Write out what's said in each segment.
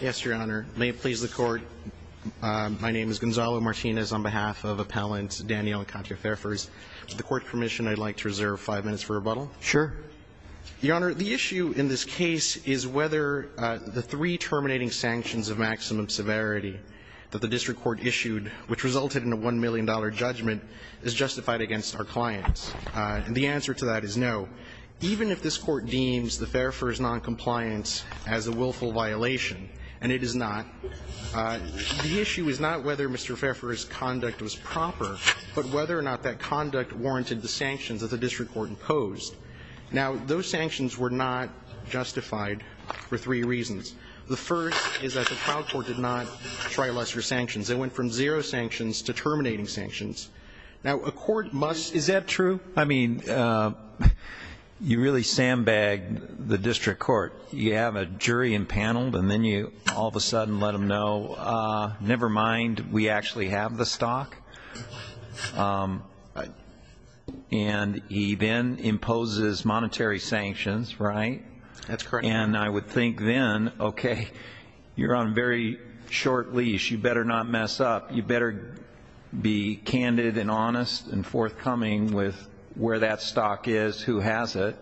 Yes, Your Honor. May it please the Court, my name is Gonzalo Martinez on behalf of Appellant Daniel and Katya Faerfers. To the Court's permission, I'd like to reserve five minutes for rebuttal. Sure. Your Honor, the issue in this case is whether the three terminating sanctions of maximum severity that the district court issued, which resulted in a $1 million judgment, is justified against our clients. And the answer to that is no. Even if this Court deems the Faerfers noncompliance as a willful violation, and it is not, the issue is not whether Mr. Faerfers' conduct was proper, but whether or not that conduct warranted the sanctions that the district court imposed. Now, those sanctions were not justified for three reasons. The first is that the trial court did not try lesser sanctions. They went from zero sanctions to terminating sanctions. Now, a court must... Is that true? I mean, you really sandbag the district court. You have a jury impaneled, and then you all of a sudden let them know, never mind, we actually have the stock, and he then imposes monetary sanctions, right? That's correct. And I would think then, okay, you're on a very short leash. You better not mess up. You better be candid and honest and forthcoming with where that stock is, who has it.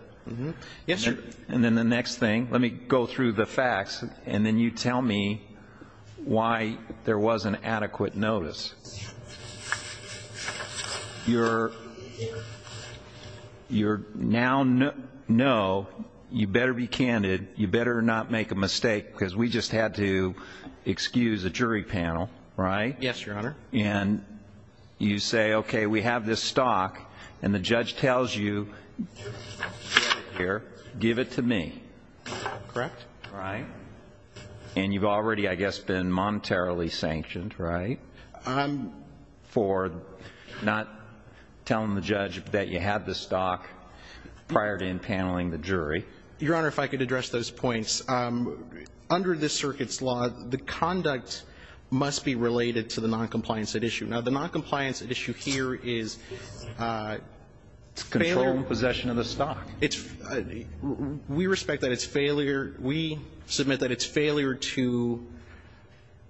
Yes, sir. And then the next thing, let me go through the facts, and then you tell me why there wasn't adequate notice. You're now... No, you better be candid. You better not make a mistake, because we just had to excuse a jury panel, right? Yes, Your Honor. And you say, okay, we have this stock, and the judge tells you, get it here, give it to me. Correct. Right. And you've already, I guess, been monetarily sanctioned, right? For not telling the judge that you have the stock prior to impaneling the jury. Your Honor, if I could address those points. Under this circuit's law, the conduct must be related to the noncompliance at issue. Now, the noncompliance at issue here is... It's control and possession of the stock. We respect that it's failure. We submit that it's failure to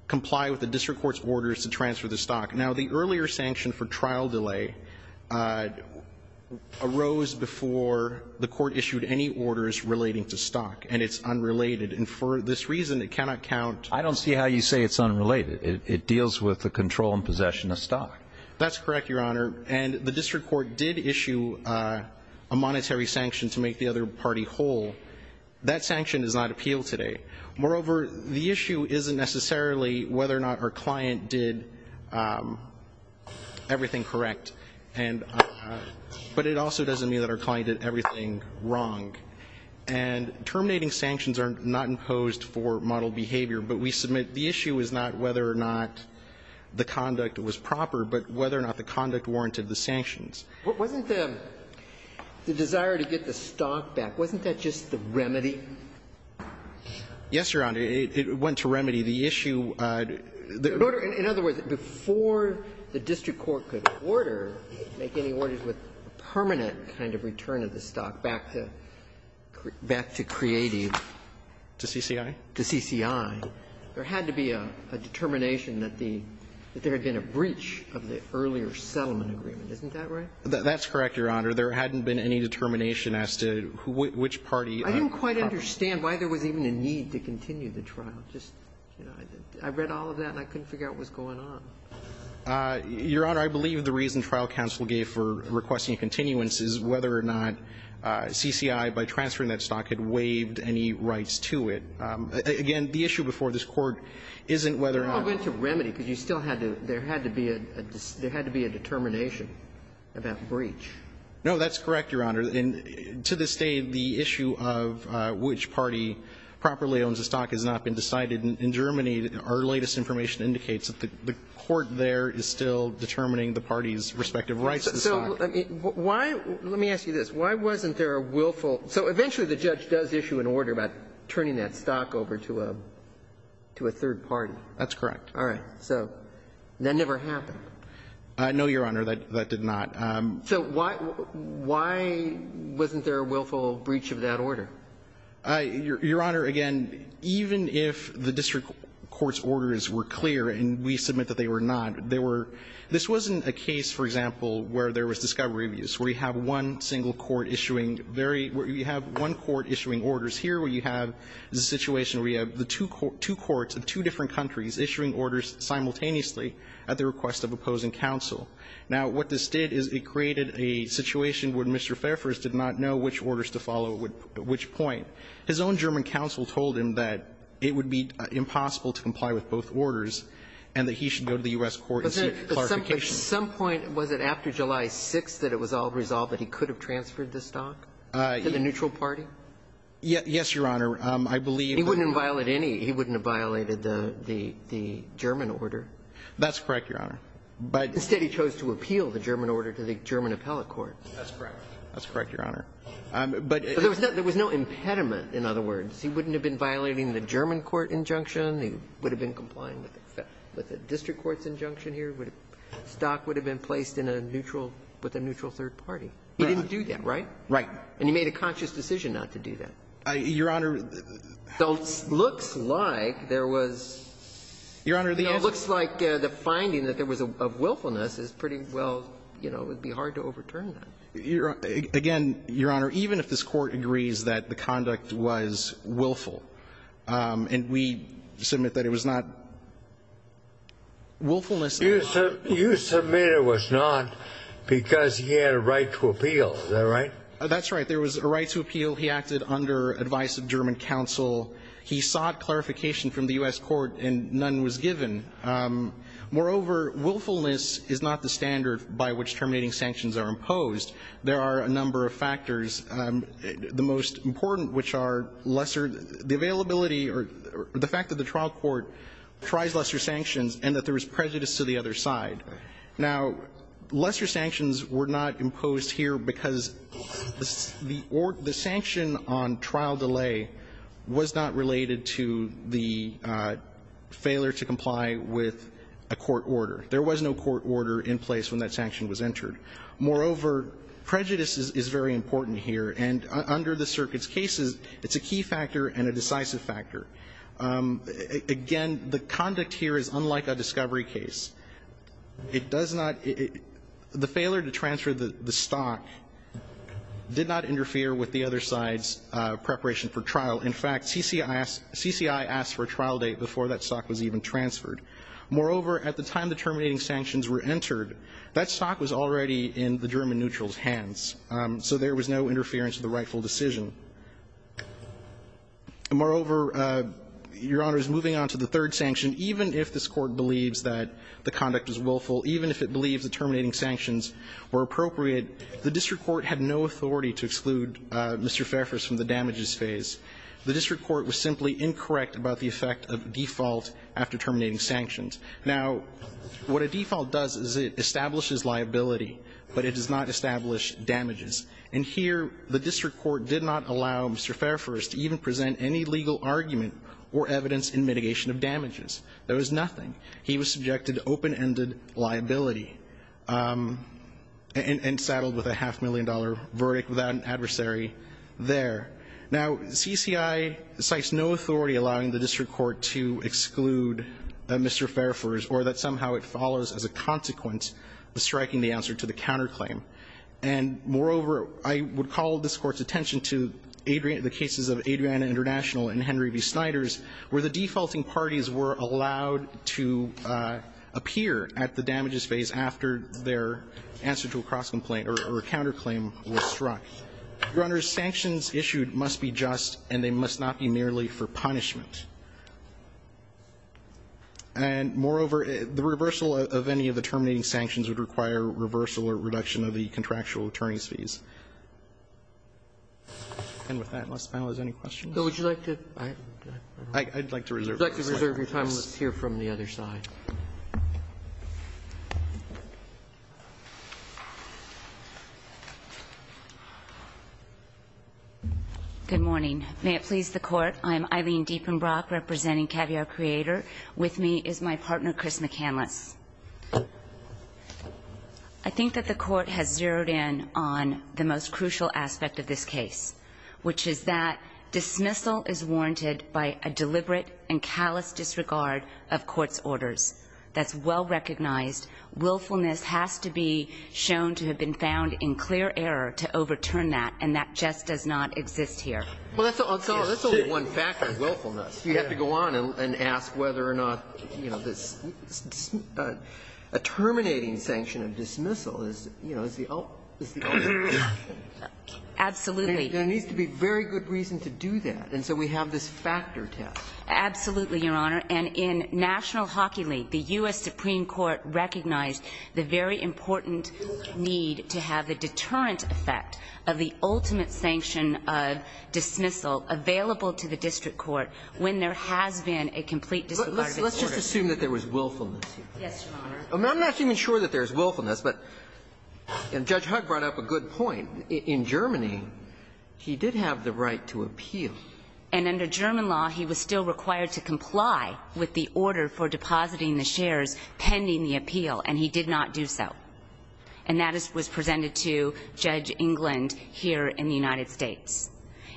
comply with the district court's orders to transfer the stock. Now, the earlier sanction for trial delay arose before the court issued any orders relating to stock, and it's unrelated. And for this reason, it cannot count... I don't see how you say it's unrelated. It deals with the control and possession of stock. That's correct, Your Honor. And the district court did issue a monetary sanction to make the other party whole. That sanction does not appeal today. Moreover, the issue isn't necessarily whether or not our client did everything correct, but it also doesn't mean that our client did everything wrong. And terminating sanctions are not imposed for model behavior, but we submit the issue is not whether or not the conduct was proper, but whether or not the conduct warranted the sanctions. Wasn't the desire to get the stock back, wasn't that just the remedy? Yes, Your Honor. It went to remedy the issue. In other words, before the district court could order, make any orders with permanent kind of return of the stock back to creative... To CCI? To CCI. There had to be a determination that the – that there had been a breach of the earlier settlement agreement. Isn't that right? That's correct, Your Honor. There hadn't been any determination as to which party... I don't quite understand why there was even a need to continue the trial. Just, you know, I read all of that, and I couldn't figure out what's going on. Your Honor, I believe the reason trial counsel gave for requesting continuance is whether or not CCI, by transferring that stock, had waived any rights to it. Again, the issue before this court isn't whether or not... It went to remedy, because you still had to – there had to be a determination about breach. No, that's correct, Your Honor. And to this day, the issue of which party properly owns the stock has not been decided. In Germany, our latest information indicates that the court there is still determining the parties' respective rights to the stock. So why – let me ask you this. Why wasn't there a willful – so eventually, the judge does issue an order about turning that stock over to a third party. That's correct. All right. So that never happened. No, Your Honor, that did not. So why wasn't there a willful breach of that order? Your Honor, again, even if the district court's orders were clear, and we submit that they were not, they were – this wasn't a case, for example, where there was discovery abuse, where you have one single court issuing very – where you have one court issuing orders here, where you have the situation where you have the two courts of two different countries issuing orders simultaneously at the request of opposing counsel. Now, what this did is it created a situation where Mr. Fairfax did not know which orders to follow at which point. His own German counsel told him that it would be impossible to comply with both orders and that he should go to the U.S. court and seek clarification. At some point, was it after July 6th that it was all resolved that he could have transferred the stock to the neutral party? Yes, Your Honor. I believe that – He wouldn't have violated any – he wouldn't have violated the German order. That's correct, Your Honor. But instead he chose to appeal the German order to the German appellate court. That's correct. That's correct, Your Honor. But there was no impediment, in other words. He wouldn't have been violating the German court injunction. He would have been complying with the district court's injunction here. Stock would have been placed in a neutral – with a neutral third party. He didn't do that, right? Right. And he made a conscious decision not to do that. Your Honor, the – Though it looks like there was – Your Honor, the answer – It looks like the finding that there was a willfulness is pretty well, you know, it would be hard to overturn that. Again, Your Honor, even if this Court agrees that the conduct was willful, and we submit that it was not willfulness. You submit it was not because he had a right to appeal. Is that right? That's right. There was a right to appeal. He acted under advice of German counsel. He sought clarification from the U.S. court, and none was given. Moreover, willfulness is not the standard by which terminating sanctions are imposed. There are a number of factors. The most important, which are lesser – the availability or the fact that the trial court tries lesser sanctions and that there was prejudice to the other side. Now, lesser sanctions were not imposed here because the sanction on trial delay was not related to the failure to comply with a court order. There was no court order in place when that sanction was entered. Moreover, prejudice is very important here, and under the circuit's cases, it's a key factor and a decisive factor. Again, the conduct here is unlike a discovery case. It does not – the failure to transfer the stock did not interfere with the other side's preparation for trial. In fact, CCI asked for a trial date before that stock was even transferred. Moreover, at the time the terminating sanctions were entered, that stock was already in the German neutral's hands, so there was no interference with the rightful decision. Moreover, Your Honor, moving on to the third sanction, even if this Court believes that the conduct was willful, even if it believes the terminating sanctions were appropriate, the district court had no authority to exclude Mr. Fairfax from the damages phase. The district court was simply incorrect about the effect of default after terminating sanctions. Now, what a default does is it establishes liability, but it does not establish damages. And here, the district court did not allow Mr. Fairfax to even present any legal argument or evidence in mitigation of damages. There was nothing. He was subjected to open-ended liability and saddled with a half-million-dollar verdict without an adversary there. Now, CCI cites no authority allowing the district court to exclude Mr. Fairfax or that somehow it follows as a consequence of striking the answer to the counterclaim. And moreover, I would call this Court's attention to the cases of Adriana International and Henry v. Snyder's, where the defaulting parties were allowed to appear at the damages phase after their answer to a cross-complaint or a counterclaim was struck. Your Honor, sanctions issued must be just, and they must not be merely for punishment. And moreover, the reversal of any of the terminating sanctions would require reversal or reduction of the contractual attorney's fees. And with that, unless the panel has any questions? Roberts. I'd like to reserve your time and let's hear from the other side. Deepenbrock. Good morning. May it please the Court. I'm Eileen Deepenbrock, representing Caviar Creator. With me is my partner, Chris McCandless. I think that the Court has zeroed in on the most crucial aspect of this case, which is that dismissal is warranted by a deliberate and callous disregard of court's orders. That's well recognized. Willfulness has to be shown to have been found in clear error to overturn that, and that just does not exist here. Well, that's the only one factor, willfulness. You have to go on and ask whether or not, you know, a terminating sanction of dismissal is, you know, is the only one. Absolutely. There needs to be very good reason to do that. And so we have this factor test. Absolutely, Your Honor. And in National Hockey League, the U.S. Supreme Court recognized the very important need to have the deterrent effect of the ultimate sanction of dismissal available to the district court when there has been a complete disregard of its orders. Let's just assume that there was willfulness. Yes, Your Honor. I'm not even sure that there's willfulness, but Judge Hugg brought up a good point. In Germany, he did have the right to appeal. And under German law, he was still required to comply with the order for depositing the shares pending the appeal, and he did not do so. And that was presented to Judge England here in the United States.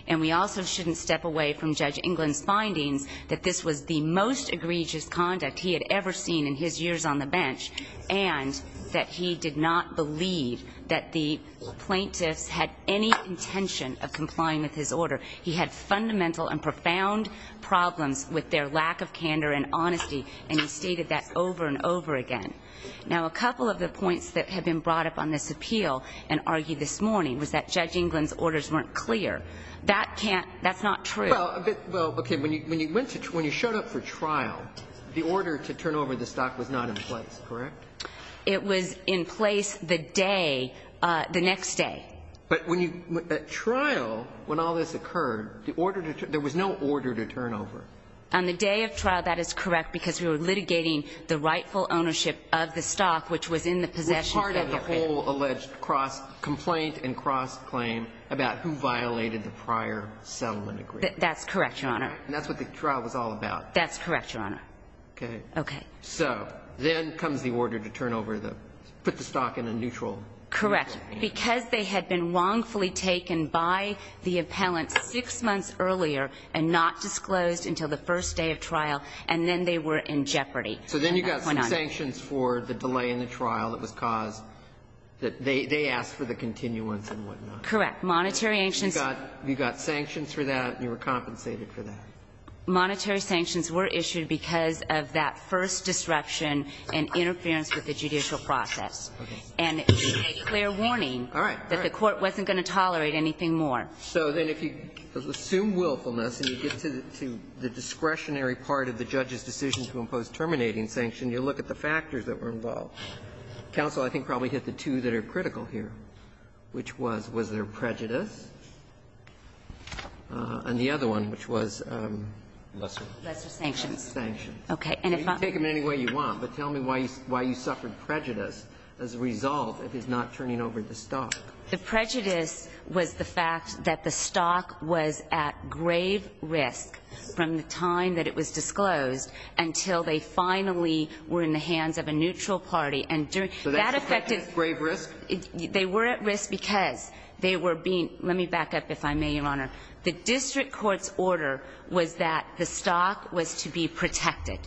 And we also shouldn't step away from Judge England's findings that this was the most egregious conduct he had ever seen in his years on the bench, and that he did not believe that the plaintiffs had any intention of complying with his order. He had fundamental and profound problems with their lack of candor and honesty, and he stated that over and over again. Now, a couple of the points that have been brought up on this appeal and argued this morning was that Judge England's orders weren't clear. That's not true. Well, okay, when you showed up for trial, the order to turn over the stock was not in place, correct? It was in place the day, the next day. But at trial, when all this occurred, there was no order to turn over. On the day of trial, that is correct, because we were litigating the rightful ownership of the stock, which was in the possession- Was part of the whole alleged cross-complaint and cross-claim about who violated the prior settlement agreement. That's correct, Your Honor. And that's what the trial was all about. That's correct, Your Honor. Okay. Okay. So, then comes the order to turn over the, put the stock in a neutral- Correct. Because they had been wrongfully taken by the appellant six months earlier, and not disclosed until the first day of trial, and then they were in jeopardy. So, then you got some sanctions for the delay in the trial that was caused, that they asked for the continuance and whatnot. Correct. Monetary sanctions- You got sanctions for that, and you were compensated for that. Monetary sanctions were issued because of that first disruption and interference with the judicial process. And it was a clear warning that the Court wasn't going to tolerate anything more. So, then, if you assume willfulness and you get to the discretionary part of the judge's decision to impose terminating sanction, you look at the factors that were involved. Counsel, I think, probably hit the two that are critical here, which was, was there prejudice, and the other one, which was- Lesser. Lesser sanctions. Lesser sanctions. Okay. And if I'm- You can take them any way you want, but tell me why you suffered prejudice as a result of his not turning over the stock. The prejudice was the fact that the stock was at grave risk from the time that it was disclosed until they finally were in the hands of a neutral party. And during- So, that affected grave risk? They were at risk because they were being- Let me back up, if I may, Your Honor. The district court's order was that the stock was to be protected.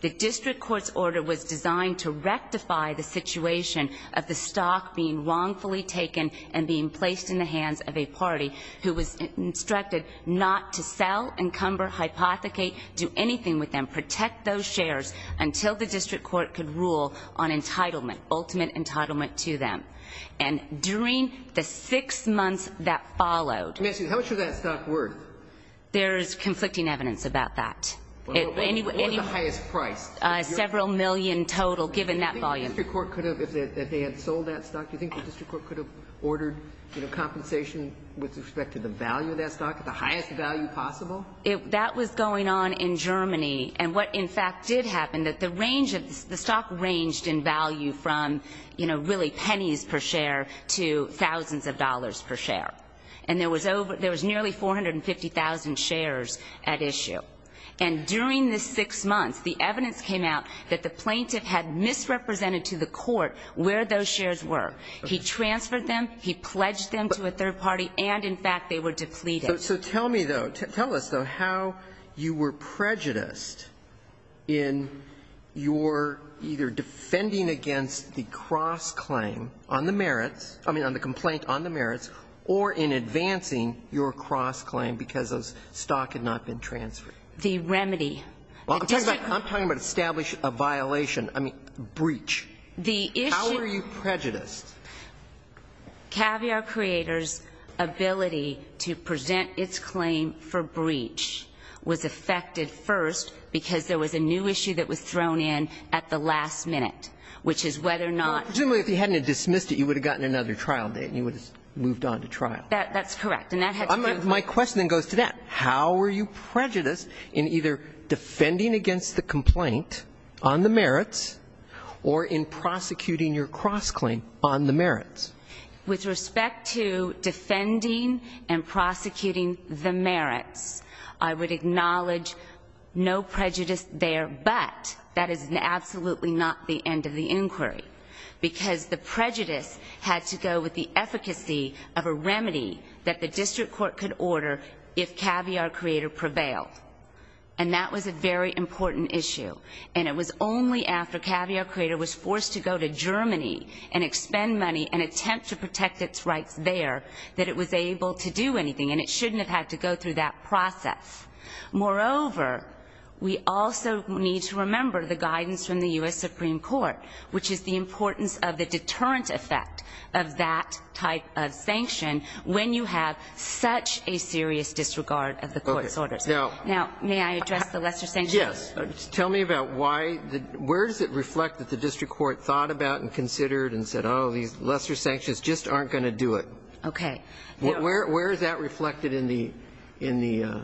The district court's order was designed to rectify the situation of the stock being wrongfully taken and being placed in the hands of a party who was instructed not to sell, encumber, hypothecate, do anything with them, protect those shares, until the district court could rule on entitlement, ultimate entitlement to them. And during the six months that followed- Can I ask you, how much was that stock worth? There's conflicting evidence about that. Well, what was the highest price? Several million total, given that volume. The district court could have, if they had sold that stock, do you think the district court could have ordered, you know, compensation with respect to the value of that stock at the highest value possible? That was going on in Germany. And what, in fact, did happen, that the range of the stock ranged in value from, you know, really pennies per share to thousands of dollars per share. And there was nearly 450,000 shares at issue. And during the six months, the evidence came out that the plaintiff had misrepresented to the court where those shares were. He transferred them. He pledged them to a third party. And, in fact, they were depleted. So tell me, though, tell us, though, how you were prejudiced in your either defending against the cross-claim on the merits, I mean, on the complaint on the merits, or in the remedy? Well, I'm talking about establish a violation. I mean, breach. The issue How were you prejudiced? Caviar Creators' ability to present its claim for breach was affected first because there was a new issue that was thrown in at the last minute, which is whether or not Presumably, if he hadn't dismissed it, you would have gotten another trial date and you would have moved on to trial. That's correct. And that had to be My question then goes to that. How were you prejudiced in either defending against the complaint on the merits or in prosecuting your cross-claim on the merits? With respect to defending and prosecuting the merits, I would acknowledge no prejudice there. But that is absolutely not the end of the inquiry because the prejudice had to go with the efficacy of a remedy that the District Court could order if Caviar Creator prevailed. And that was a very important issue. And it was only after Caviar Creator was forced to go to Germany and expend money and attempt to protect its rights there that it was able to do anything. And it shouldn't have had to go through that process. Moreover, we also need to remember the guidance from the U.S. of that type of sanction when you have such a serious disregard of the court's orders. Now, may I address the lesser sanctions? Yes. Tell me about why the where does it reflect that the District Court thought about and considered and said, oh, these lesser sanctions just aren't going to do it? Okay. Where is that reflected in the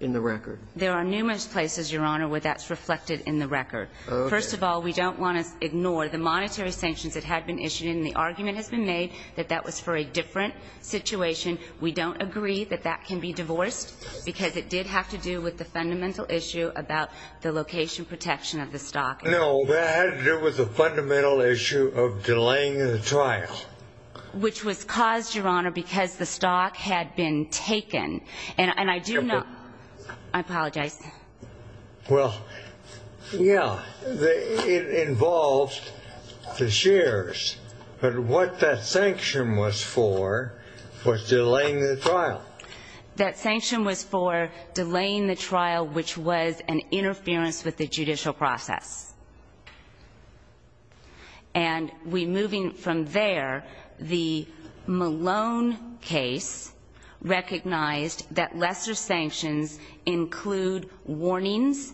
record? There are numerous places, Your Honor, where that's reflected in the record. First of all, we don't want to ignore the monetary sanctions that had been issued and the argument has been made that that was for a different situation. We don't agree that that can be divorced because it did have to do with the fundamental issue about the location protection of the stock. No, that had to do with the fundamental issue of delaying the trial. Which was caused, Your Honor, because the stock had been taken. And I do not. I apologize. Well, yeah, it involves the shares. But what that sanction was for was delaying the trial. That sanction was for delaying the trial, which was an interference with the judicial process. And we, moving from there, the Malone case recognized that lesser sanctions include warnings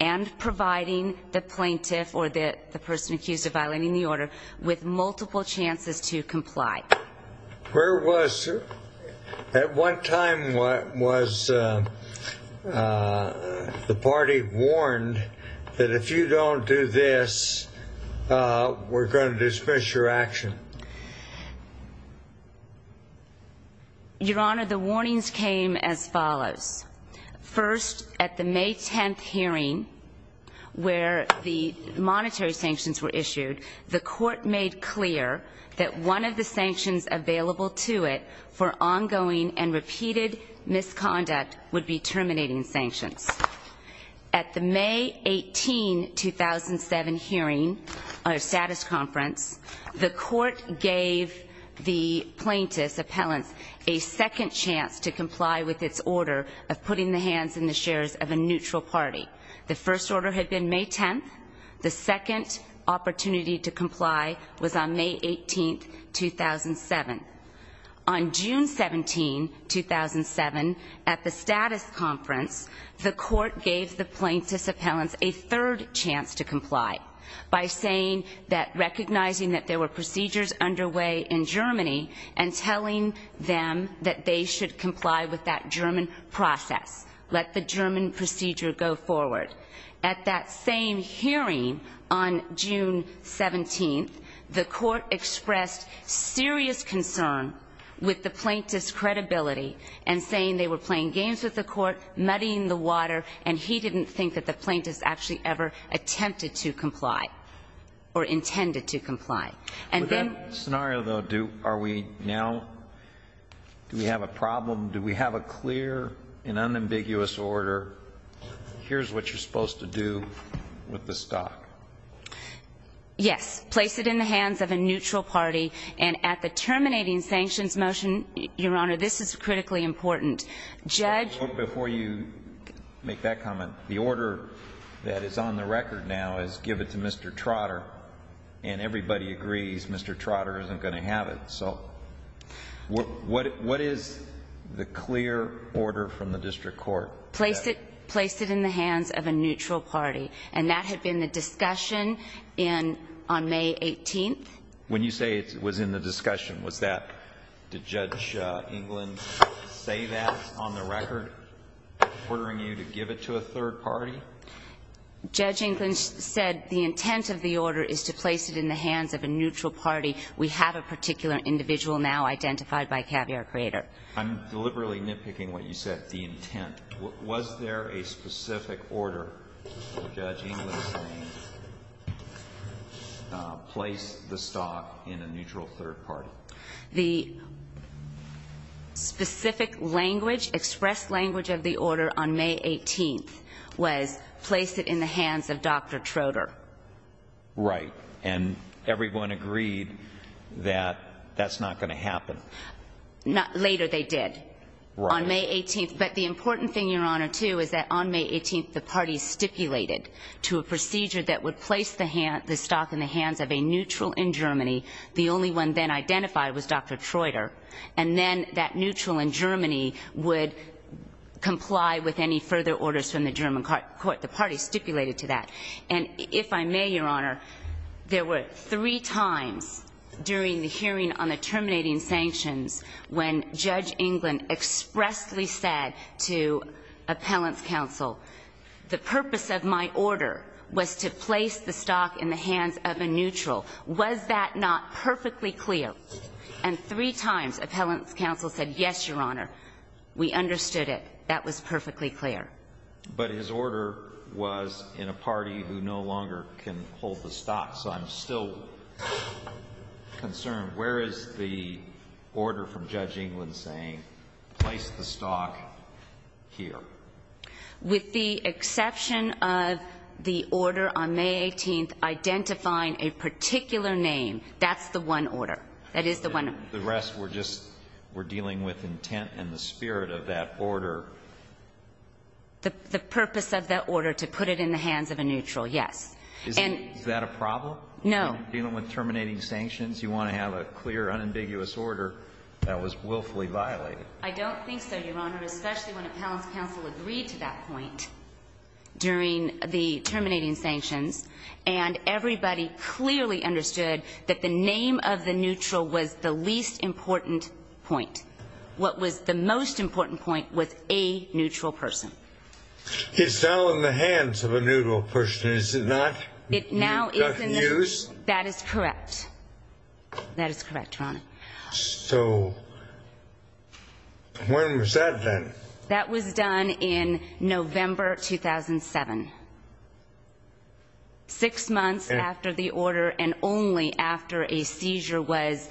and providing the plaintiff or the person accused of violating the order with multiple chances to comply. Where was, at what time was the party warned that if you don't comply, you're going to do this? We're going to dismiss your action. Your Honor, the warnings came as follows. First, at the May 10th hearing, where the monetary sanctions were issued, the court made clear that one of the sanctions available to it for ongoing and repeated misconduct would be terminating sanctions. At the May 18, 2007 hearing, or status conference, the court gave the plaintiff's appellant a second chance to comply with its order of putting the hands in the shares of a neutral party. The first order had been May 10th. The second opportunity to comply was on May 18, 2007. On June 17, 2007, at the status conference, the court gave the plaintiff's appellant a third chance to comply by saying that, recognizing that there were procedures underway in Germany, and telling them that they should comply with that German process. Let the German procedure go forward. At that same hearing, on June 17, the court expressed serious concern with the plaintiff's credibility, and saying they were playing games with the court, muddying the water, and he didn't think that the plaintiff actually ever attempted to comply, or intended to comply. In that scenario, though, do we have a problem? Do we have a clear and unambiguous order? Here's what you're supposed to do with the stock. Yes. Place it in the hands of a neutral party, and at the terminating sanctions motion, Your Honor, this is critically important. Judge... Before you make that comment, the order that is on the record now is give it to Mr. Trotter, and everybody agrees Mr. Trotter isn't going to have it. So what is the clear order from the district court? Place it in the hands of a neutral party. And that had been the discussion on May 18. When you say it was in the discussion, was that... Did Judge England say that on the record, ordering you to give it to a third party? Judge England said the intent of the order is to place it in the hands of a neutral party. We have a particular individual now identified by caviar creator. I'm deliberately nitpicking what you said, the intent. Was there a specific order for Judge England to say, place the stock in a neutral third party? The specific language, express language of the order on May 18 was place it in the hands of Dr. Trotter. Right. And everyone agreed that that's not going to happen. Not later, they did on May 18. But the important thing, Your Honor, too, is that on May 18, the party stipulated to a procedure that would place the stock in the hands of a neutral in Germany. The only one then identified was Dr. Trotter. And then that neutral in Germany would comply with any further orders from the German court. The party stipulated to that. And if I may, Your Honor, there were three times during the hearing on the terminating sanctions when Judge England expressly said to Appellant's counsel, the purpose of my order was to place the stock in the hands of a neutral. Was that not perfectly clear? And three times Appellant's counsel said, yes, Your Honor, we understood it. That was perfectly clear. But his order was in a party who no longer can hold the stock. So I'm still concerned. Where is the order from Judge England saying, place the stock here? With the exception of the order on May 18 identifying a particular name. That's the one order. That is the one. The rest were just were dealing with intent and the spirit of that order. The purpose of that order to put it in the hands of a neutral, yes. Is that a problem? No. Dealing with terminating sanctions? You want to have a clear, unambiguous order that was willfully violated? I don't think so, Your Honor, especially when Appellant's counsel agreed to that point during the terminating sanctions. And everybody clearly understood that the name of the neutral was the least important point. What was the most important point was a neutral person. It's now in the hands of a neutral person. Is it not? It now is. Not in use? That is correct. That is correct, Your Honor. So when was that then? That was done in November 2007. Six months after the order and only after a seizure was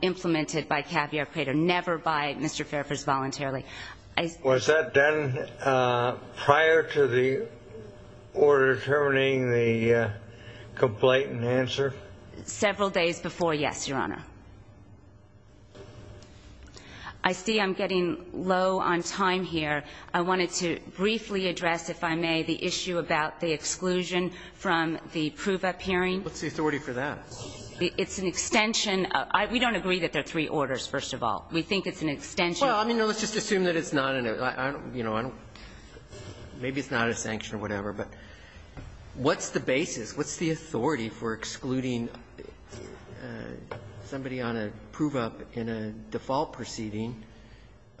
implemented by Caviar Crater, never by Mr. Fairfax voluntarily. Was that done prior to the order determining the complaint and answer? Several days before, yes, Your Honor. I see I'm getting low on time here. I wanted to briefly address, if I may, the issue about the exclusion from the prove-up hearing. What's the authority for that? It's an extension. We don't agree that there are three orders, first of all. We think it's an extension. Well, I mean, let's just assume that it's not a, you know, maybe it's not a sanction or whatever, but what's the basis? What's the authority for excluding somebody on a prove-up in a default proceeding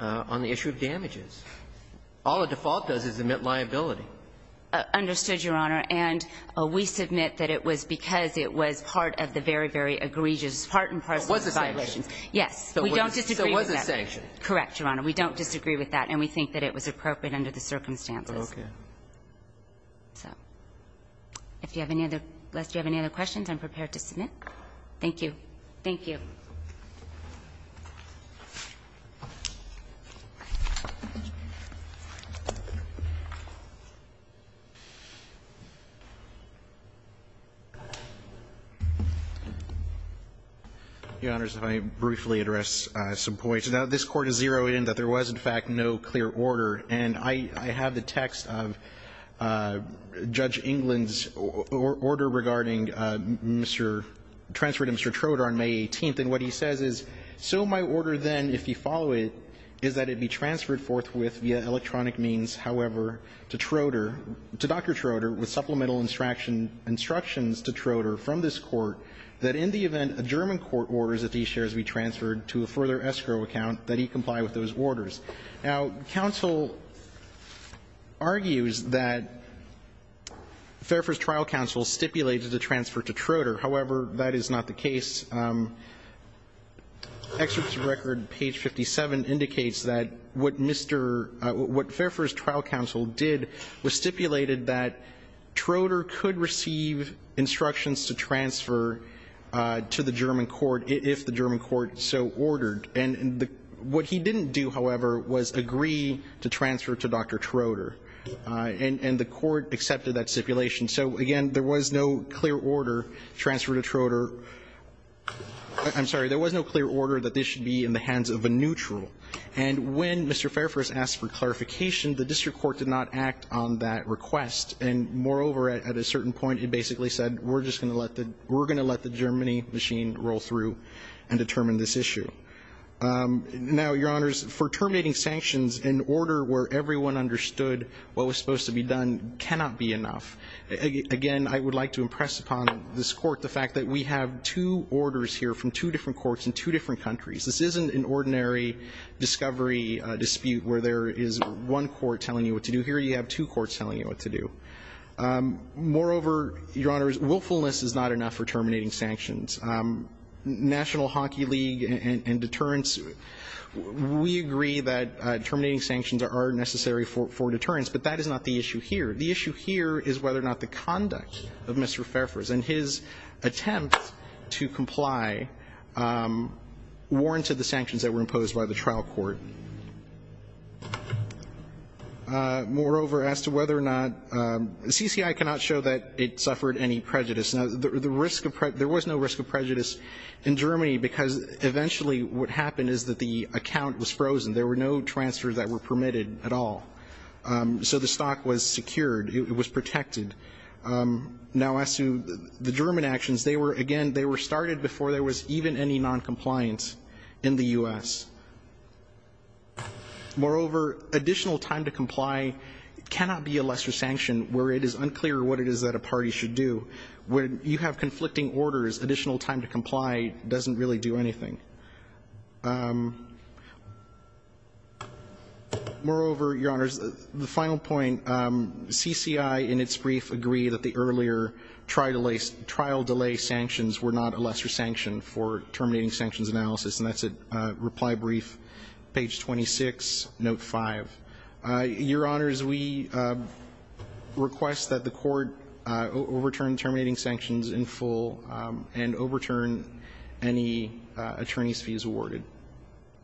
on the issue of damages? All a default does is admit liability. Understood, Your Honor. And we submit that it was because it was part of the very, very egregious part and parcel of the violations. We don't disagree with that. So it was a sanction. Correct, Your Honor. We don't disagree with that. And we think that it was appropriate under the circumstances. Okay. So if you have any other questions, I'm prepared to submit. Thank you. Thank you. Your Honors, if I may briefly address some points. Now, this Court is zeroing in that there was, in fact, no clear order. And I have the text of Judge England's order regarding Mr. – transferring Mr. Trotar on May 18th. And what he says is, so my order then, if you follow it, is that it be transferred forthwith via electronic means, however, to Trotar – to Dr. Trotar with supplemental instruction – instructions to Trotar from this Court that in the event a German court orders that these shares be transferred to a further escrow account, that he comply with those orders. Now, counsel argues that Fairfax Trial Counsel stipulated the transfer to Trotar. However, that is not the case. Excerpts of record, page 57, indicates that what Mr. – what Fairfax Trial Counsel did was stipulated that Trotar could receive instructions to transfer to the German court if the German court so ordered. And what he didn't do, however, was agree to transfer to Dr. Trotar. And the court accepted that stipulation. So, again, there was no clear order, transfer to Trotar – I'm sorry, there was no clear order that this should be in the hands of a neutral. And when Mr. Fairfax asked for clarification, the district court did not act on that request. And moreover, at a certain point, it basically said, we're just going to let the – we're going to let the Germany machine roll through and determine this issue. Now, Your Honors, for terminating sanctions, an order where everyone understood what was supposed to be done cannot be enough. Again, I would like to impress upon this court the fact that we have two orders here from two different courts in two different countries. This isn't an ordinary discovery dispute where there is one court telling you what to do. Here you have two courts telling you what to do. Moreover, Your Honors, willfulness is not enough for terminating sanctions. National Hockey League and deterrence – we agree that terminating sanctions are necessary for deterrence, but that is not the issue here. The issue here is whether or not the conduct of Mr. Fairfax and his attempt to comply warranted the sanctions that were imposed by the trial court. Moreover, as to whether or not – CCI cannot show that it suffered any prejudice. Now, the risk of – there was no risk of prejudice in Germany because eventually what happened is that the account was frozen. There were no transfers that were permitted at all. So the stock was secured. It was protected. Now, as to the German actions, they were – again, they were started before there was even any noncompliance in the U.S. Moreover, additional time to comply cannot be a lesser sanction where it is unclear what it is that a party should do. When you have conflicting orders, additional time to comply doesn't really do anything. Moreover, Your Honors, the final point, CCI in its brief agree that the earlier trial delay sanctions were not a lesser sanction for terminating sanctions analysis, and that's at reply brief, page 26, note 5. Your Honors, we request that the court overturn terminating sanctions in full and overturn any attorney's fees awarded.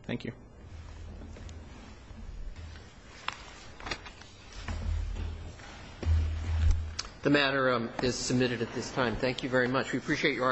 Thank you. The matter is submitted at this time. Thank you very much. We appreciate your…